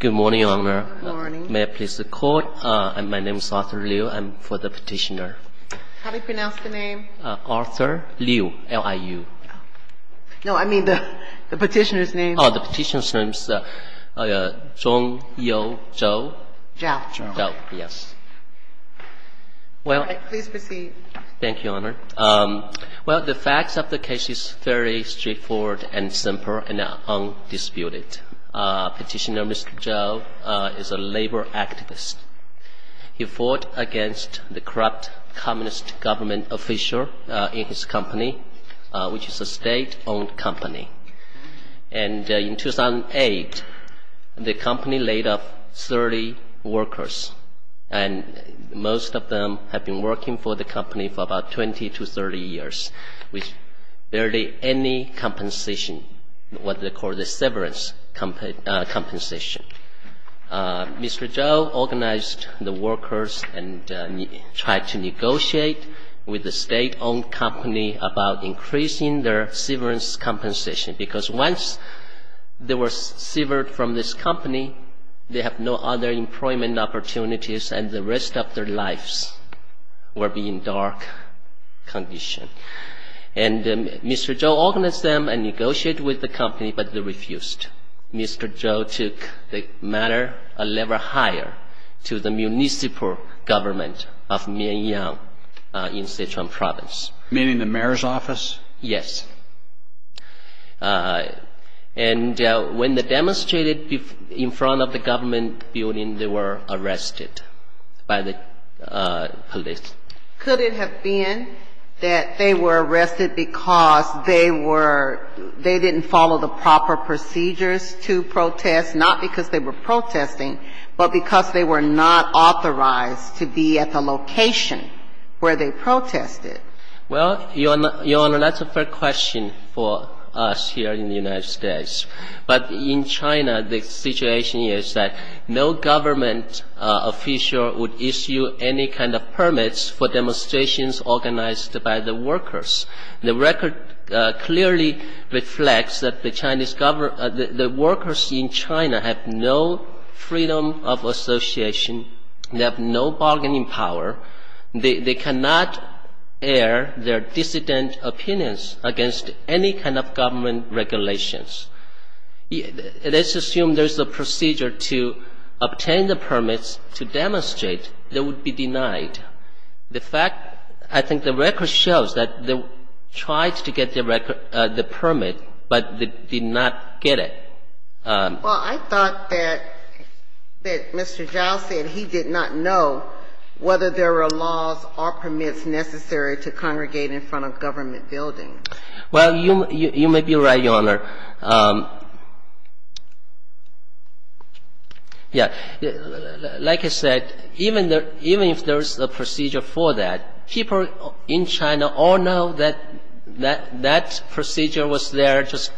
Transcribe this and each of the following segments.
Good morning, Your Honor. May I please record? My name is Arthur Liu. I'm for the petitioner. How do you pronounce the name? Arthur Liu, L-I-U. No, I mean the petitioner's name. Oh, the petitioner's name is Zhong You Zhou. Zhou. Zhou, yes. All right, please proceed. Thank you, Your Honor. Well, the facts of the case is very straightforward and simple and undisputed. Petitioner Mr. Zhou is a labor activist. He fought against the corrupt communist government official in his company, which is a state-owned company. And in 2008, the company laid off 30 workers. And most of them have been working for the company for about 20 to 30 years with barely any compensation, what they call the severance compensation. Mr. Zhou organized the workers and tried to negotiate with the state-owned company about increasing their severance compensation, because once they were severed from this company, they have no other employment opportunities and the rest of their lives will be in dark condition. And Mr. Zhou organized them and negotiated with the company, but they refused. Mr. Zhou took the matter a level higher to the municipal government of Mianyang in Sichuan Province. Meaning the mayor's office? Yes. And when they demonstrated in front of the government building, they were arrested by the police. Could it have been that they were arrested because they were they didn't follow the proper procedures to protest, not because they were protesting, but because they were not authorized to be at the location where they protested? Well, Your Honor, that's a fair question for us here in the United States. But in China, the situation is that no government official would issue any kind of permits for demonstrations organized by the workers. The record clearly reflects that the workers in China have no freedom of association. They have no bargaining power. They cannot air their dissident opinions against any kind of government regulations. Let's assume there's a procedure to obtain the permits to demonstrate. They would be denied. The fact, I think the record shows that they tried to get the permit, but they did not get it. Well, I thought that Mr. Zhao said he did not know whether there were laws or permits necessary to congregate in front of government buildings. Well, you may be right, Your Honor. Like I said, even if there's a procedure for that, people in China all know that that procedure was there just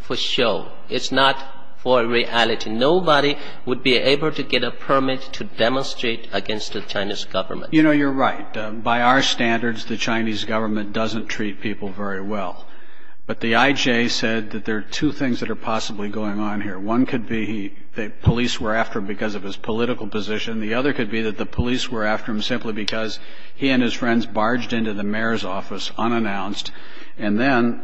for show. It's not for reality. Nobody would be able to get a permit to demonstrate against the Chinese government. You know, you're right. By our standards, the Chinese government doesn't treat people very well. But the I.J. said that there are two things that are possibly going on here. One could be that police were after him because of his political position. The other could be that the police were after him simply because he and his friends barged into the mayor's office unannounced. And then,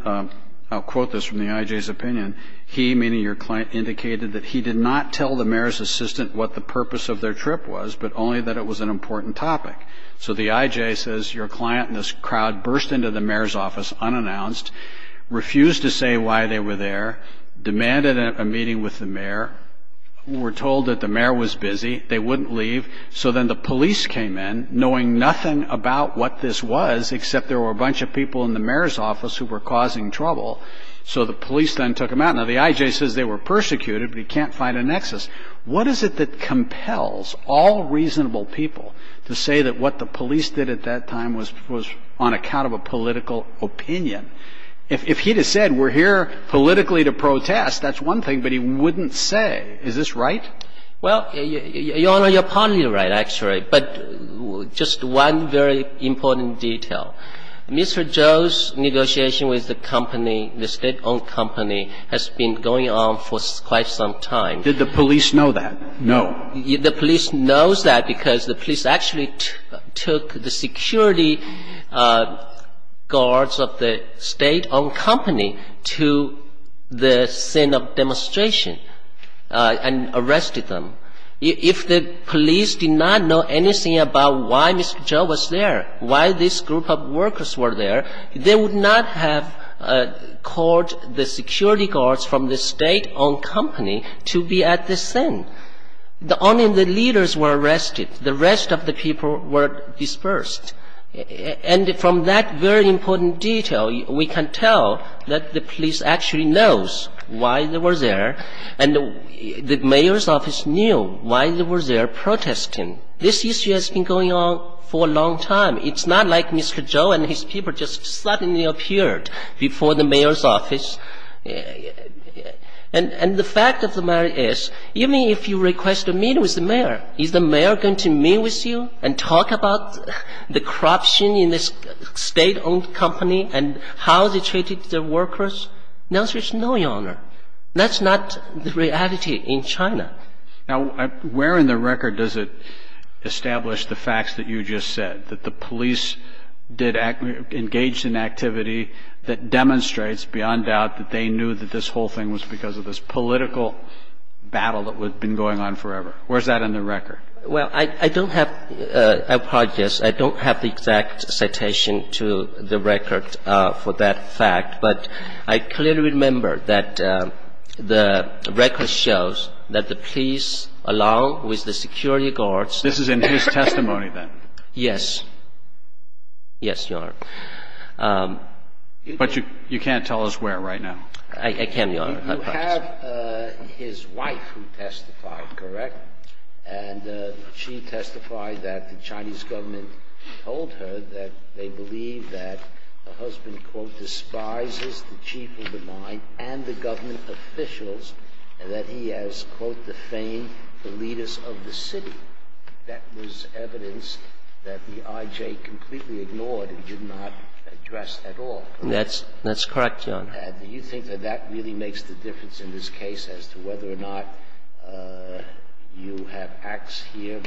I'll quote this from the I.J.'s opinion, he, meaning your client, indicated that he did not tell the mayor's assistant what the purpose of their trip was, but only that it was an important topic. So the I.J. says your client and this crowd burst into the mayor's office unannounced, refused to say why they were there, demanded a meeting with the mayor, were told that the mayor was busy, they wouldn't leave. So then the police came in, knowing nothing about what this was, except there were a bunch of people in the mayor's office who were causing trouble. So the police then took them out. Now, the I.J. says they were persecuted, but he can't find a nexus. What is it that compels all reasonable people to say that what the police did at that time was on account of a political opinion? If he had said we're here politically to protest, that's one thing, but he wouldn't say. Is this right? Well, Your Honor, you're partly right, actually. But just one very important detail. Mr. Zhou's negotiation with the company, the state-owned company, has been going on for quite some time. Did the police know that? No. The police knows that because the police actually took the security guards of the state-owned company to the scene of demonstration and arrested them. If the police did not know anything about why Mr. Zhou was there, why this group of workers were there, they would not have called the security guards from the state-owned company to be at the scene. Only the leaders were arrested. The rest of the people were dispersed. And from that very important detail, we can tell that the police actually knows why they were there, and the mayor's office knew why they were there protesting. This issue has been going on for a long time. It's not like Mr. Zhou and his people just suddenly appeared before the mayor's office. And the fact of the matter is, even if you request a meeting with the mayor, is the mayor going to meet with you and talk about the corruption in the state-owned company and how they treated the workers? No, Your Honor. That's not the reality in China. Now, where in the record does it establish the facts that you just said, that the police engaged in activity that demonstrates, beyond doubt, that they knew that this whole thing was because of this political battle that had been going on forever? Where is that in the record? Well, I don't have – I apologize. I don't have the exact citation to the record for that fact. But I clearly remember that the record shows that the police, along with the security guards – This is in his testimony, then? Yes. Yes, Your Honor. I can, Your Honor. You have his wife who testified, correct? And she testified that the Chinese government told her that they believe that her husband, quote, despises the chief of the mine and the government officials, and that he has, quote, defamed the leaders of the city. That was evidence that the IJ completely ignored and did not address at all. That's correct, Your Honor. And do you think that that really makes the difference in this case as to whether or not you have acts here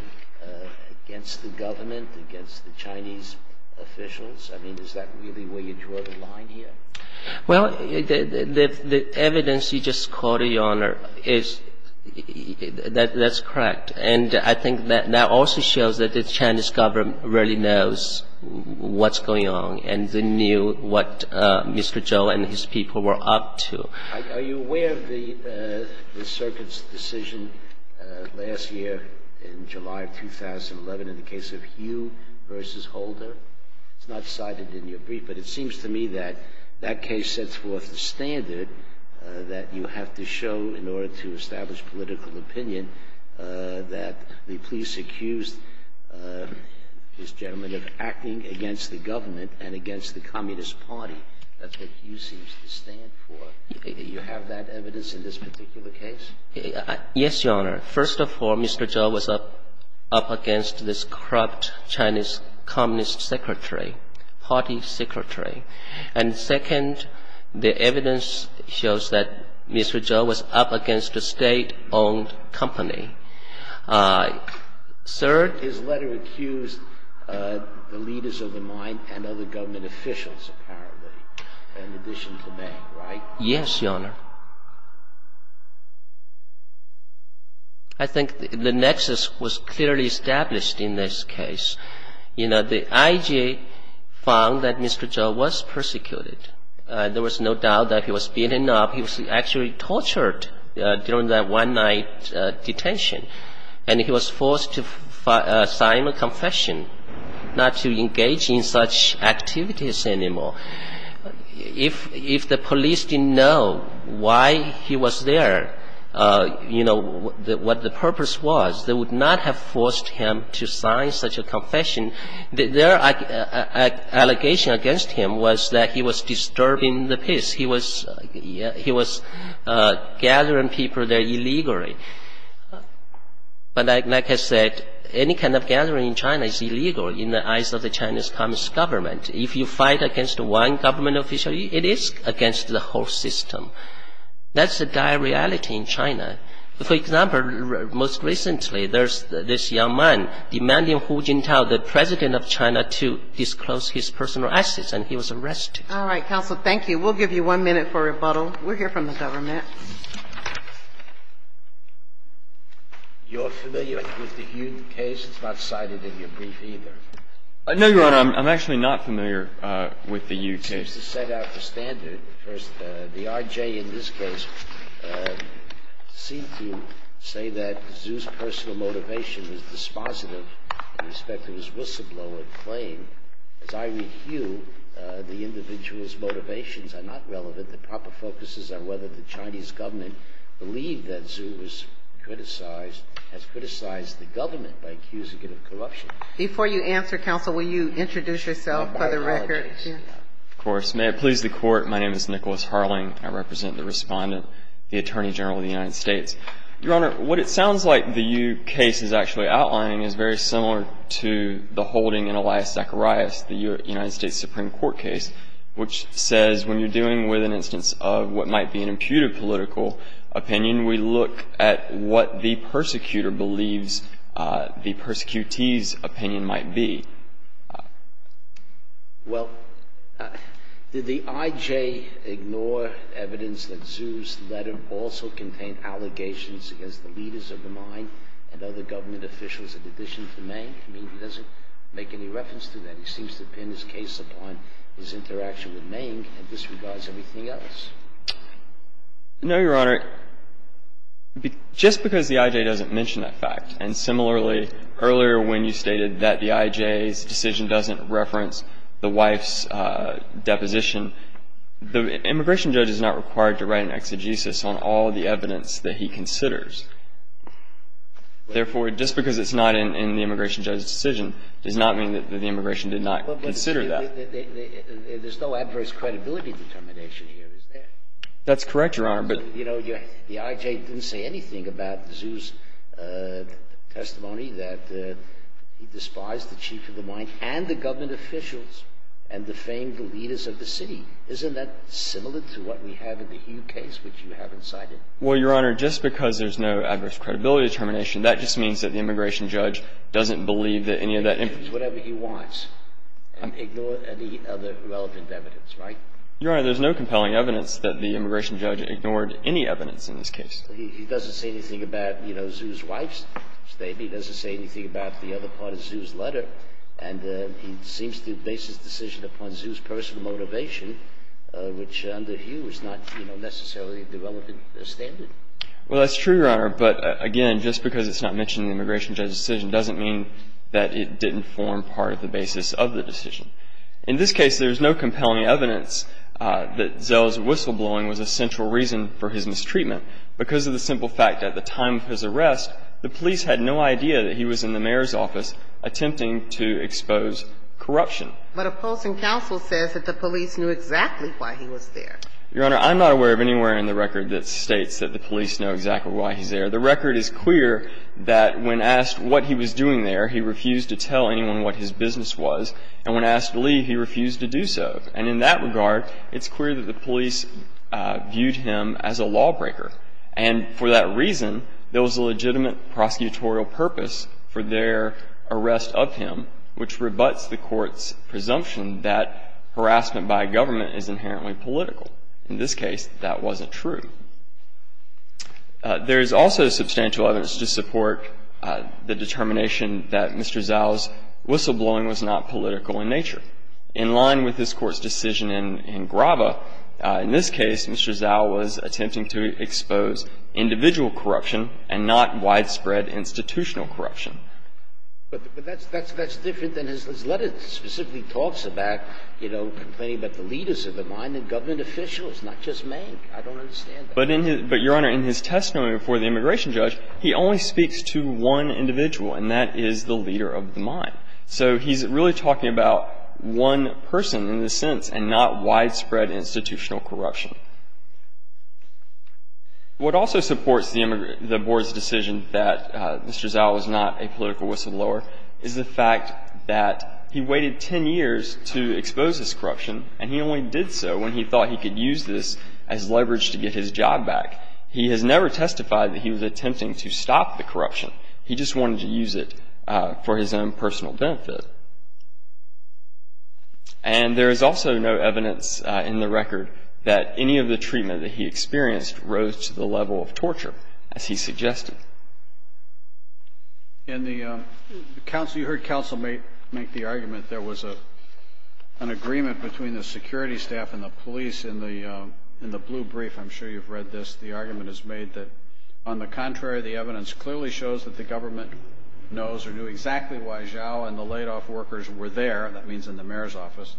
against the government, against the Chinese officials? I mean, is that really where you draw the line here? Well, the evidence you just quoted, Your Honor, is – that's correct. And I think that that also shows that the Chinese government really knows what's going on and they knew what Mr. Zhou and his people were up to. Are you aware of the circuit's decision last year in July of 2011 in the case of Hugh v. Holder? It's not cited in your brief, but it seems to me that that case sets forth the standard that you have to show in order to establish political opinion that the police accused this gentleman of acting against the government and against the Communist Party. That's what Hugh seems to stand for. Do you have that evidence in this particular case? Yes, Your Honor. First of all, Mr. Zhou was up against this corrupt Chinese Communist secretary, party secretary. And second, the evidence shows that Mr. Zhou was up against a state-owned company. Third? His letter accused the leaders of the mine and other government officials, apparently, in addition to me, right? Yes, Your Honor. I think the nexus was clearly established in this case. You know, the IG found that Mr. Zhou was persecuted. There was no doubt that he was beaten up. He was actually tortured during that one-night detention. And he was forced to sign a confession not to engage in such activities anymore. If the police didn't know why he was there, you know, what the purpose was, they would not have forced him to sign such a confession. Their allegation against him was that he was disturbing the peace. He was gathering people there illegally. But like I said, any kind of gathering in China is illegal in the eyes of the Chinese Communist government. If you fight against one government official, it is against the whole system. That's a dire reality in China. For example, most recently there's this young man demanding Hu Jintao, the president of China, to disclose his personal assets, and he was arrested. All right, counsel, thank you. We'll give you one minute for rebuttal. We'll hear from the government. You're familiar with the Hu case? It's not cited in your brief either. No, Your Honor. I'm actually not familiar with the Hu case. It seems to set out the standard. First, the RJ in this case seemed to say that Zhou's personal motivation was dispositive in respect to his whistleblower claim. As I read Hu, the individual's motivations are not relevant. The proper focus is on whether the Chinese government believed that Zhou has criticized the government by accusing it of corruption. Before you answer, counsel, will you introduce yourself for the record? Of course. May it please the Court, my name is Nicholas Harling. I represent the Respondent, the Attorney General of the United States. Your Honor, what it sounds like the Hu case is actually outlining is very similar to the holding in Elias Zacharias, the United States Supreme Court case, which says when you're dealing with an instance of what might be an imputed political opinion, we look at what the persecutor believes the persecutee's opinion might be. Well, did the IJ ignore evidence that Zhou's letter also contained allegations against the leaders of the mine and other government officials in addition to Meng? I mean, he doesn't make any reference to that. He seems to pin his case upon his interaction with Meng and disregards everything else. No, Your Honor. Just because the IJ doesn't mention that fact, and similarly, earlier when you stated that the IJ's decision doesn't reference the wife's deposition, the immigration judge is not required to write an exegesis on all the evidence that he considers. Therefore, just because it's not in the immigration judge's decision does not mean that the immigration did not consider that. But there's no adverse credibility determination here, is there? That's correct, Your Honor, but — You know, the IJ didn't say anything about Zhou's testimony that he despised the chief of the mine and the government officials and defamed the leaders of the city. Isn't that similar to what we have in the Hu case, which you haven't cited? Well, Your Honor, just because there's no adverse credibility determination, that just means that the immigration judge doesn't believe that any of that — He can do whatever he wants and ignore any other relevant evidence, right? Your Honor, there's no compelling evidence that the immigration judge ignored any evidence in this case. He doesn't say anything about, you know, Zhou's wife's statement. He doesn't say anything about the other part of Zhou's letter. And he seems to base his decision upon Zhou's personal motivation, which under Hu is not, you know, necessarily the relevant standard. Well, that's true, Your Honor, but again, just because it's not mentioned in the immigration judge's decision doesn't mean that it didn't form part of the basis of the decision. In this case, there's no compelling evidence that Zhou's whistleblowing was a central reason for his mistreatment because of the simple fact that at the time of his arrest, the police had no idea that he was in the mayor's office attempting to expose corruption. But opposing counsel says that the police knew exactly why he was there. Your Honor, I'm not aware of anywhere in the record that states that the police know exactly why he's there. The record is clear that when asked what he was doing there, he refused to tell anyone what his business was. And when asked to leave, he refused to do so. And in that regard, it's clear that the police viewed him as a lawbreaker. And for that reason, there was a legitimate prosecutorial purpose for their arrest of him, which rebuts the Court's presumption that harassment by a government is inherently political. In this case, that wasn't true. There is also substantial evidence to support the determination that Mr. Zhou's whistleblowing was not political in nature. In line with this Court's decision in Grava, in this case, Mr. Zhou was attempting to expose individual corruption and not widespread institutional corruption. But that's different than his letter that specifically talks about, you know, complaining that the leaders of the mine and government officials, not just man. I don't understand that. But, Your Honor, in his testimony before the immigration judge, he only speaks to one individual, and that is the leader of the mine. So he's really talking about one person in this sense and not widespread institutional corruption. What also supports the board's decision that Mr. Zhou was not a political whistleblower is the fact that he waited 10 years to expose this corruption, and he only did so when he thought he could use this as leverage to get his job back. He has never testified that he was attempting to stop the corruption. He just wanted to use it for his own personal benefit. And there is also no evidence in the record that any of the treatment that he experienced rose to the level of torture, as he suggested. And you heard counsel make the argument there was an agreement between the security staff and the police in the blue brief. I'm sure you've read this. The argument is made that, on the contrary, the evidence clearly shows that the government knows or knew exactly why Zhou and the laid-off workers were there. That means in the mayor's office.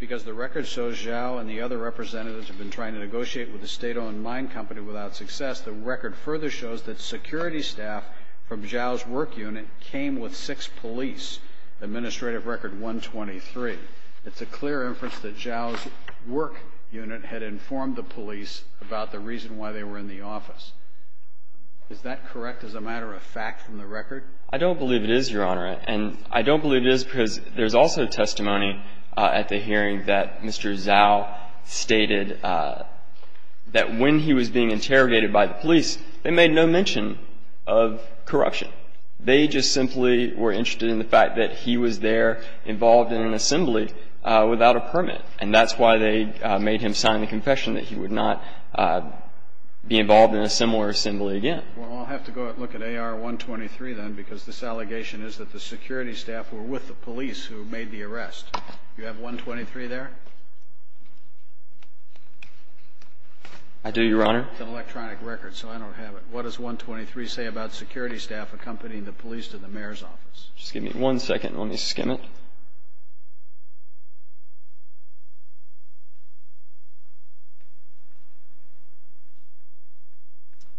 Because the record shows Zhou and the other representatives have been trying to negotiate with a state-owned mine company without success. The record further shows that security staff from Zhou's work unit came with six police, Administrative Record 123. It's a clear inference that Zhou's work unit had informed the police about the reason why they were in the office. Is that correct as a matter of fact from the record? I don't believe it is, Your Honor. And I don't believe it is because there's also testimony at the hearing that Mr. Zhou stated that when he was being interrogated by the police, they made no mention of corruption. They just simply were interested in the fact that he was there involved in an assembly without a permit. And that's why they made him sign the confession that he would not be involved in a similar assembly again. Well, I'll have to go look at AR 123, then, because this allegation is that the security staff were with the police who made the arrest. You have 123 there? I do, Your Honor. It's an electronic record, so I don't have it. What does 123 say about security staff accompanying the police to the mayor's office? Just give me one second. Let me skim it.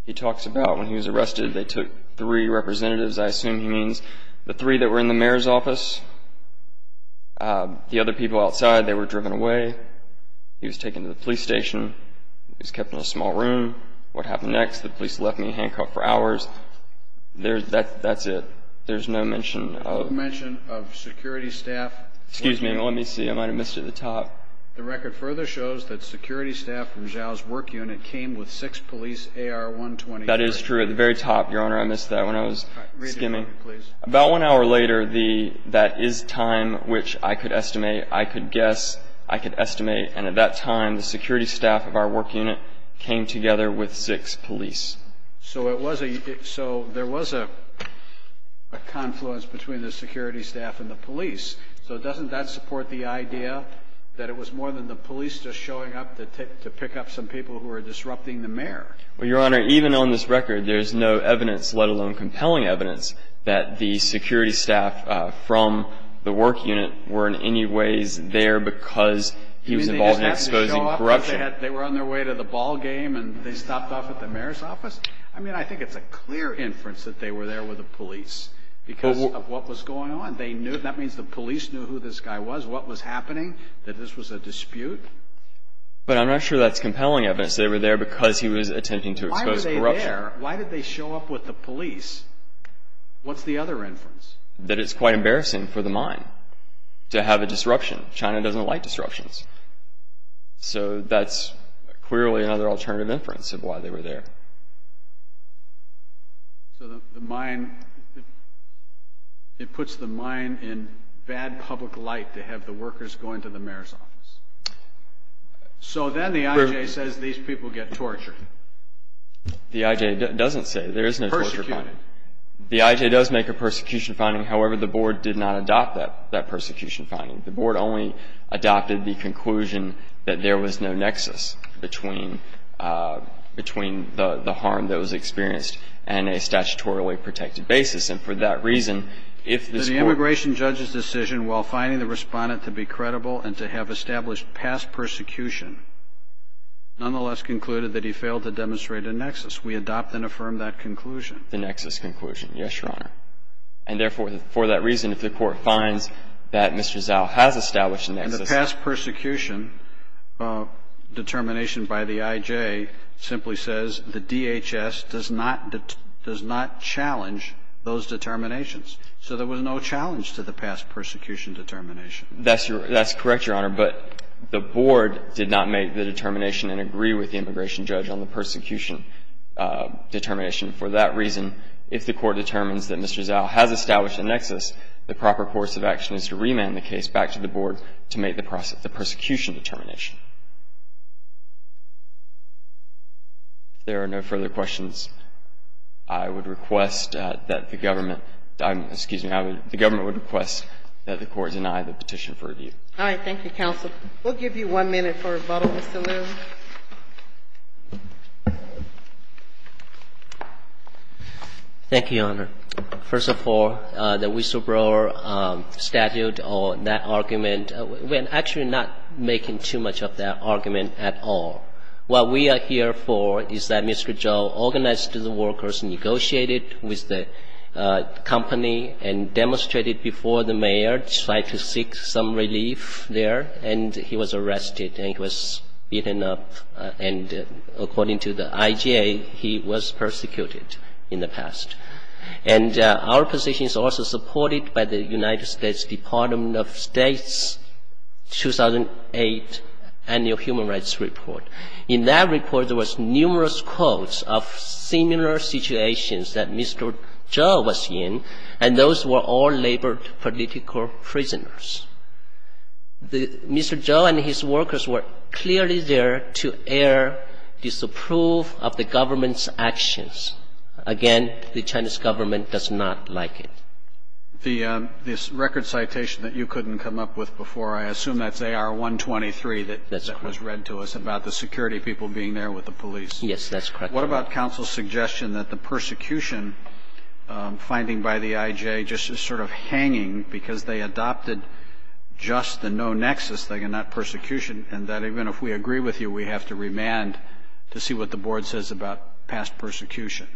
He talks about when he was arrested, they took three representatives. I assume he means the three that were in the mayor's office. The other people outside, they were driven away. He was taken to the police station. He was kept in a small room. What happened next? The police left me handcuffed for hours. That's it. There's no mention of security staff. Excuse me. Let me see. I might have missed it at the top. The record further shows that security staff from Zhou's work unit came with six police AR 123. That is true. I missed that when I was skimming. About one hour later, that is time which I could estimate. I could guess. I could estimate. And at that time, the security staff of our work unit came together with six police. So there was a confluence between the security staff and the police. So doesn't that support the idea that it was more than the police just showing up to pick up some people who were disrupting the mayor? Well, Your Honor, even on this record, there's no evidence, let alone compelling evidence, that the security staff from the work unit were in any ways there because he was involved in exposing corruption. You mean they just had to show up because they were on their way to the ball game and they stopped off at the mayor's office? I mean, I think it's a clear inference that they were there with the police because of what was going on. That means the police knew who this guy was, what was happening, that this was a dispute. But I'm not sure that's compelling evidence. They were there because he was attempting to expose corruption. Why were they there? Why did they show up with the police? What's the other inference? That it's quite embarrassing for the mine to have a disruption. China doesn't like disruptions. So that's clearly another alternative inference of why they were there. So the mine, it puts the mine in bad public light to have the workers going to the mayor's office. So then the I.J. says these people get tortured. The I.J. doesn't say. There is no torture finding. Persecution. The I.J. does make a persecution finding. However, the Board did not adopt that persecution finding. The Board only adopted the conclusion that there was no nexus between the harm that was experienced and a statutorily protected basis. And for that reason, if this Court ---- And the past persecution determination by the I.J. simply says the DHS does not challenge those determinations. So there was no challenge to the past persecution determination. That's correct, Your Honor. The Board did not make the determination and agree with the immigration judge on the persecution determination. For that reason, if the Court determines that Mr. Zhao has established a nexus, the proper course of action is to remand the case back to the Board to make the prosecution determination. If there are no further questions, I would request that the Government ---- excuse me. The Government would request that the Court deny the petition for review. All right. Thank you, counsel. We'll give you one minute for rebuttal, Mr. Liu. Thank you, Your Honor. First of all, the whistleblower statute or that argument, we're actually not making too much of that argument at all. What we are here for is that Mr. Zhao organized the workers, negotiated with the company and demonstrated before the mayor, tried to seek some relief there, and he was arrested and he was beaten up. And according to the IJA, he was persecuted in the past. And our position is also supported by the United States Department of State's 2008 Annual Human Rights Report. In that report, there was numerous quotes of similar situations that Mr. Zhao was in, and those were all labored political prisoners. Mr. Zhao and his workers were clearly there to air disapproval of the Government's actions. Again, the Chinese Government does not like it. The record citation that you couldn't come up with before, I assume that's AR-123, that was read to us about the security people being there with the police. Yes, that's correct. What about counsel's suggestion that the persecution finding by the IJA just is sort of hanging because they adopted just the no nexus thing and not persecution, and that even if we agree with you, we have to remand to see what the Board says about past persecution?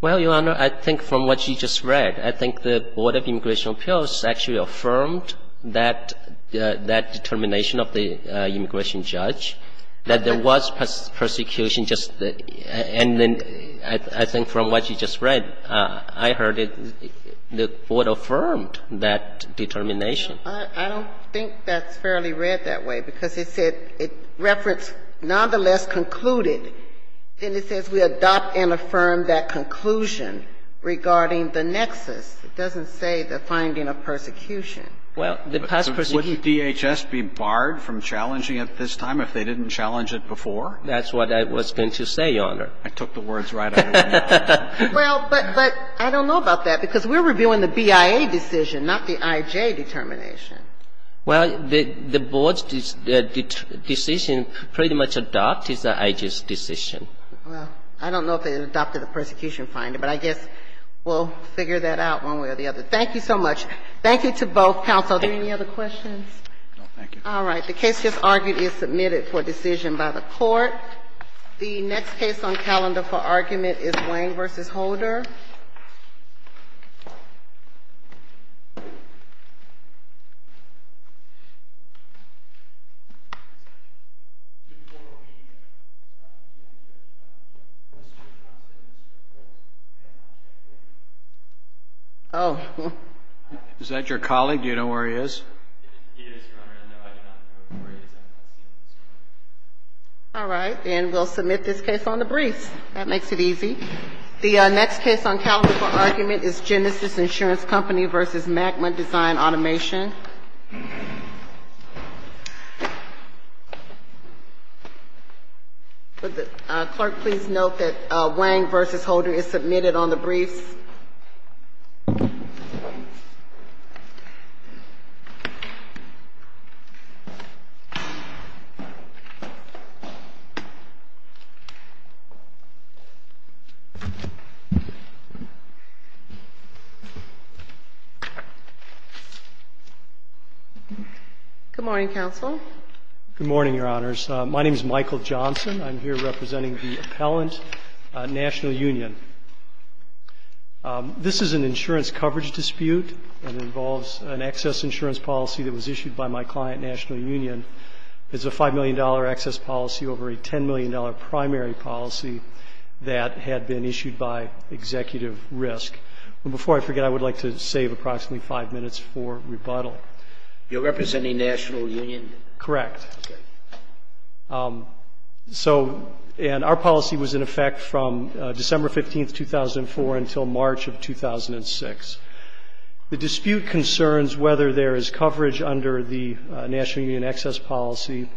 Well, Your Honor, I think from what you just read, I think the Board of Immigration Appeals actually affirmed that determination of the immigration judge, that there was persecution just, and then I think from what you just read, I heard it, the Board affirmed that determination. I don't think that's fairly read that way, because it said it referenced nonetheless concluded, and it says we adopt and affirm that conclusion regarding the nexus. It doesn't say the finding of persecution. Well, the past persecution. Wouldn't DHS be barred from challenging it this time if they didn't challenge it before? That's what I was going to say, Your Honor. I took the words right out of your mouth. Well, but I don't know about that, because we're reviewing the BIA decision, not the IJA determination. Well, the Board's decision pretty much adopts the IJA's decision. Well, I don't know if they adopted the persecution finding, but I guess we'll figure that out one way or the other. Thank you so much. Thank you to both counsel. Are there any other questions? No, thank you. All right. The case just argued is submitted for decision by the Court. The next case on calendar for argument is Wang v. Holder. Oh. Is that your colleague? Do you know where he is? He is, Your Honor. No, I do not know where he is. I have not seen him this morning. All right. And we'll submit this case on the briefs. This case is on the court of appeals. The next case on calendar for argument is Genesis Insurance Company v. Magma Design Automation. Clerk, please note that Wang v. Holder is submitted on the briefs. Good morning, counsel. Good morning, Your Honors. My name is Michael Johnson. I'm here representing the Appellant National Union. This is an insurance coverage dispute. It involves an excess insurance policy that was issued by my client, National Union. It's a $5 million excess policy over a $10 million primary policy that had been issued by Executive Risk. And before I forget, I would like to save approximately five minutes for rebuttal. You're representing National Union? Correct. So, and our policy was in effect from December 15, 2004, until March of 2006. The dispute concerns whether there is coverage under the National Union excess policy.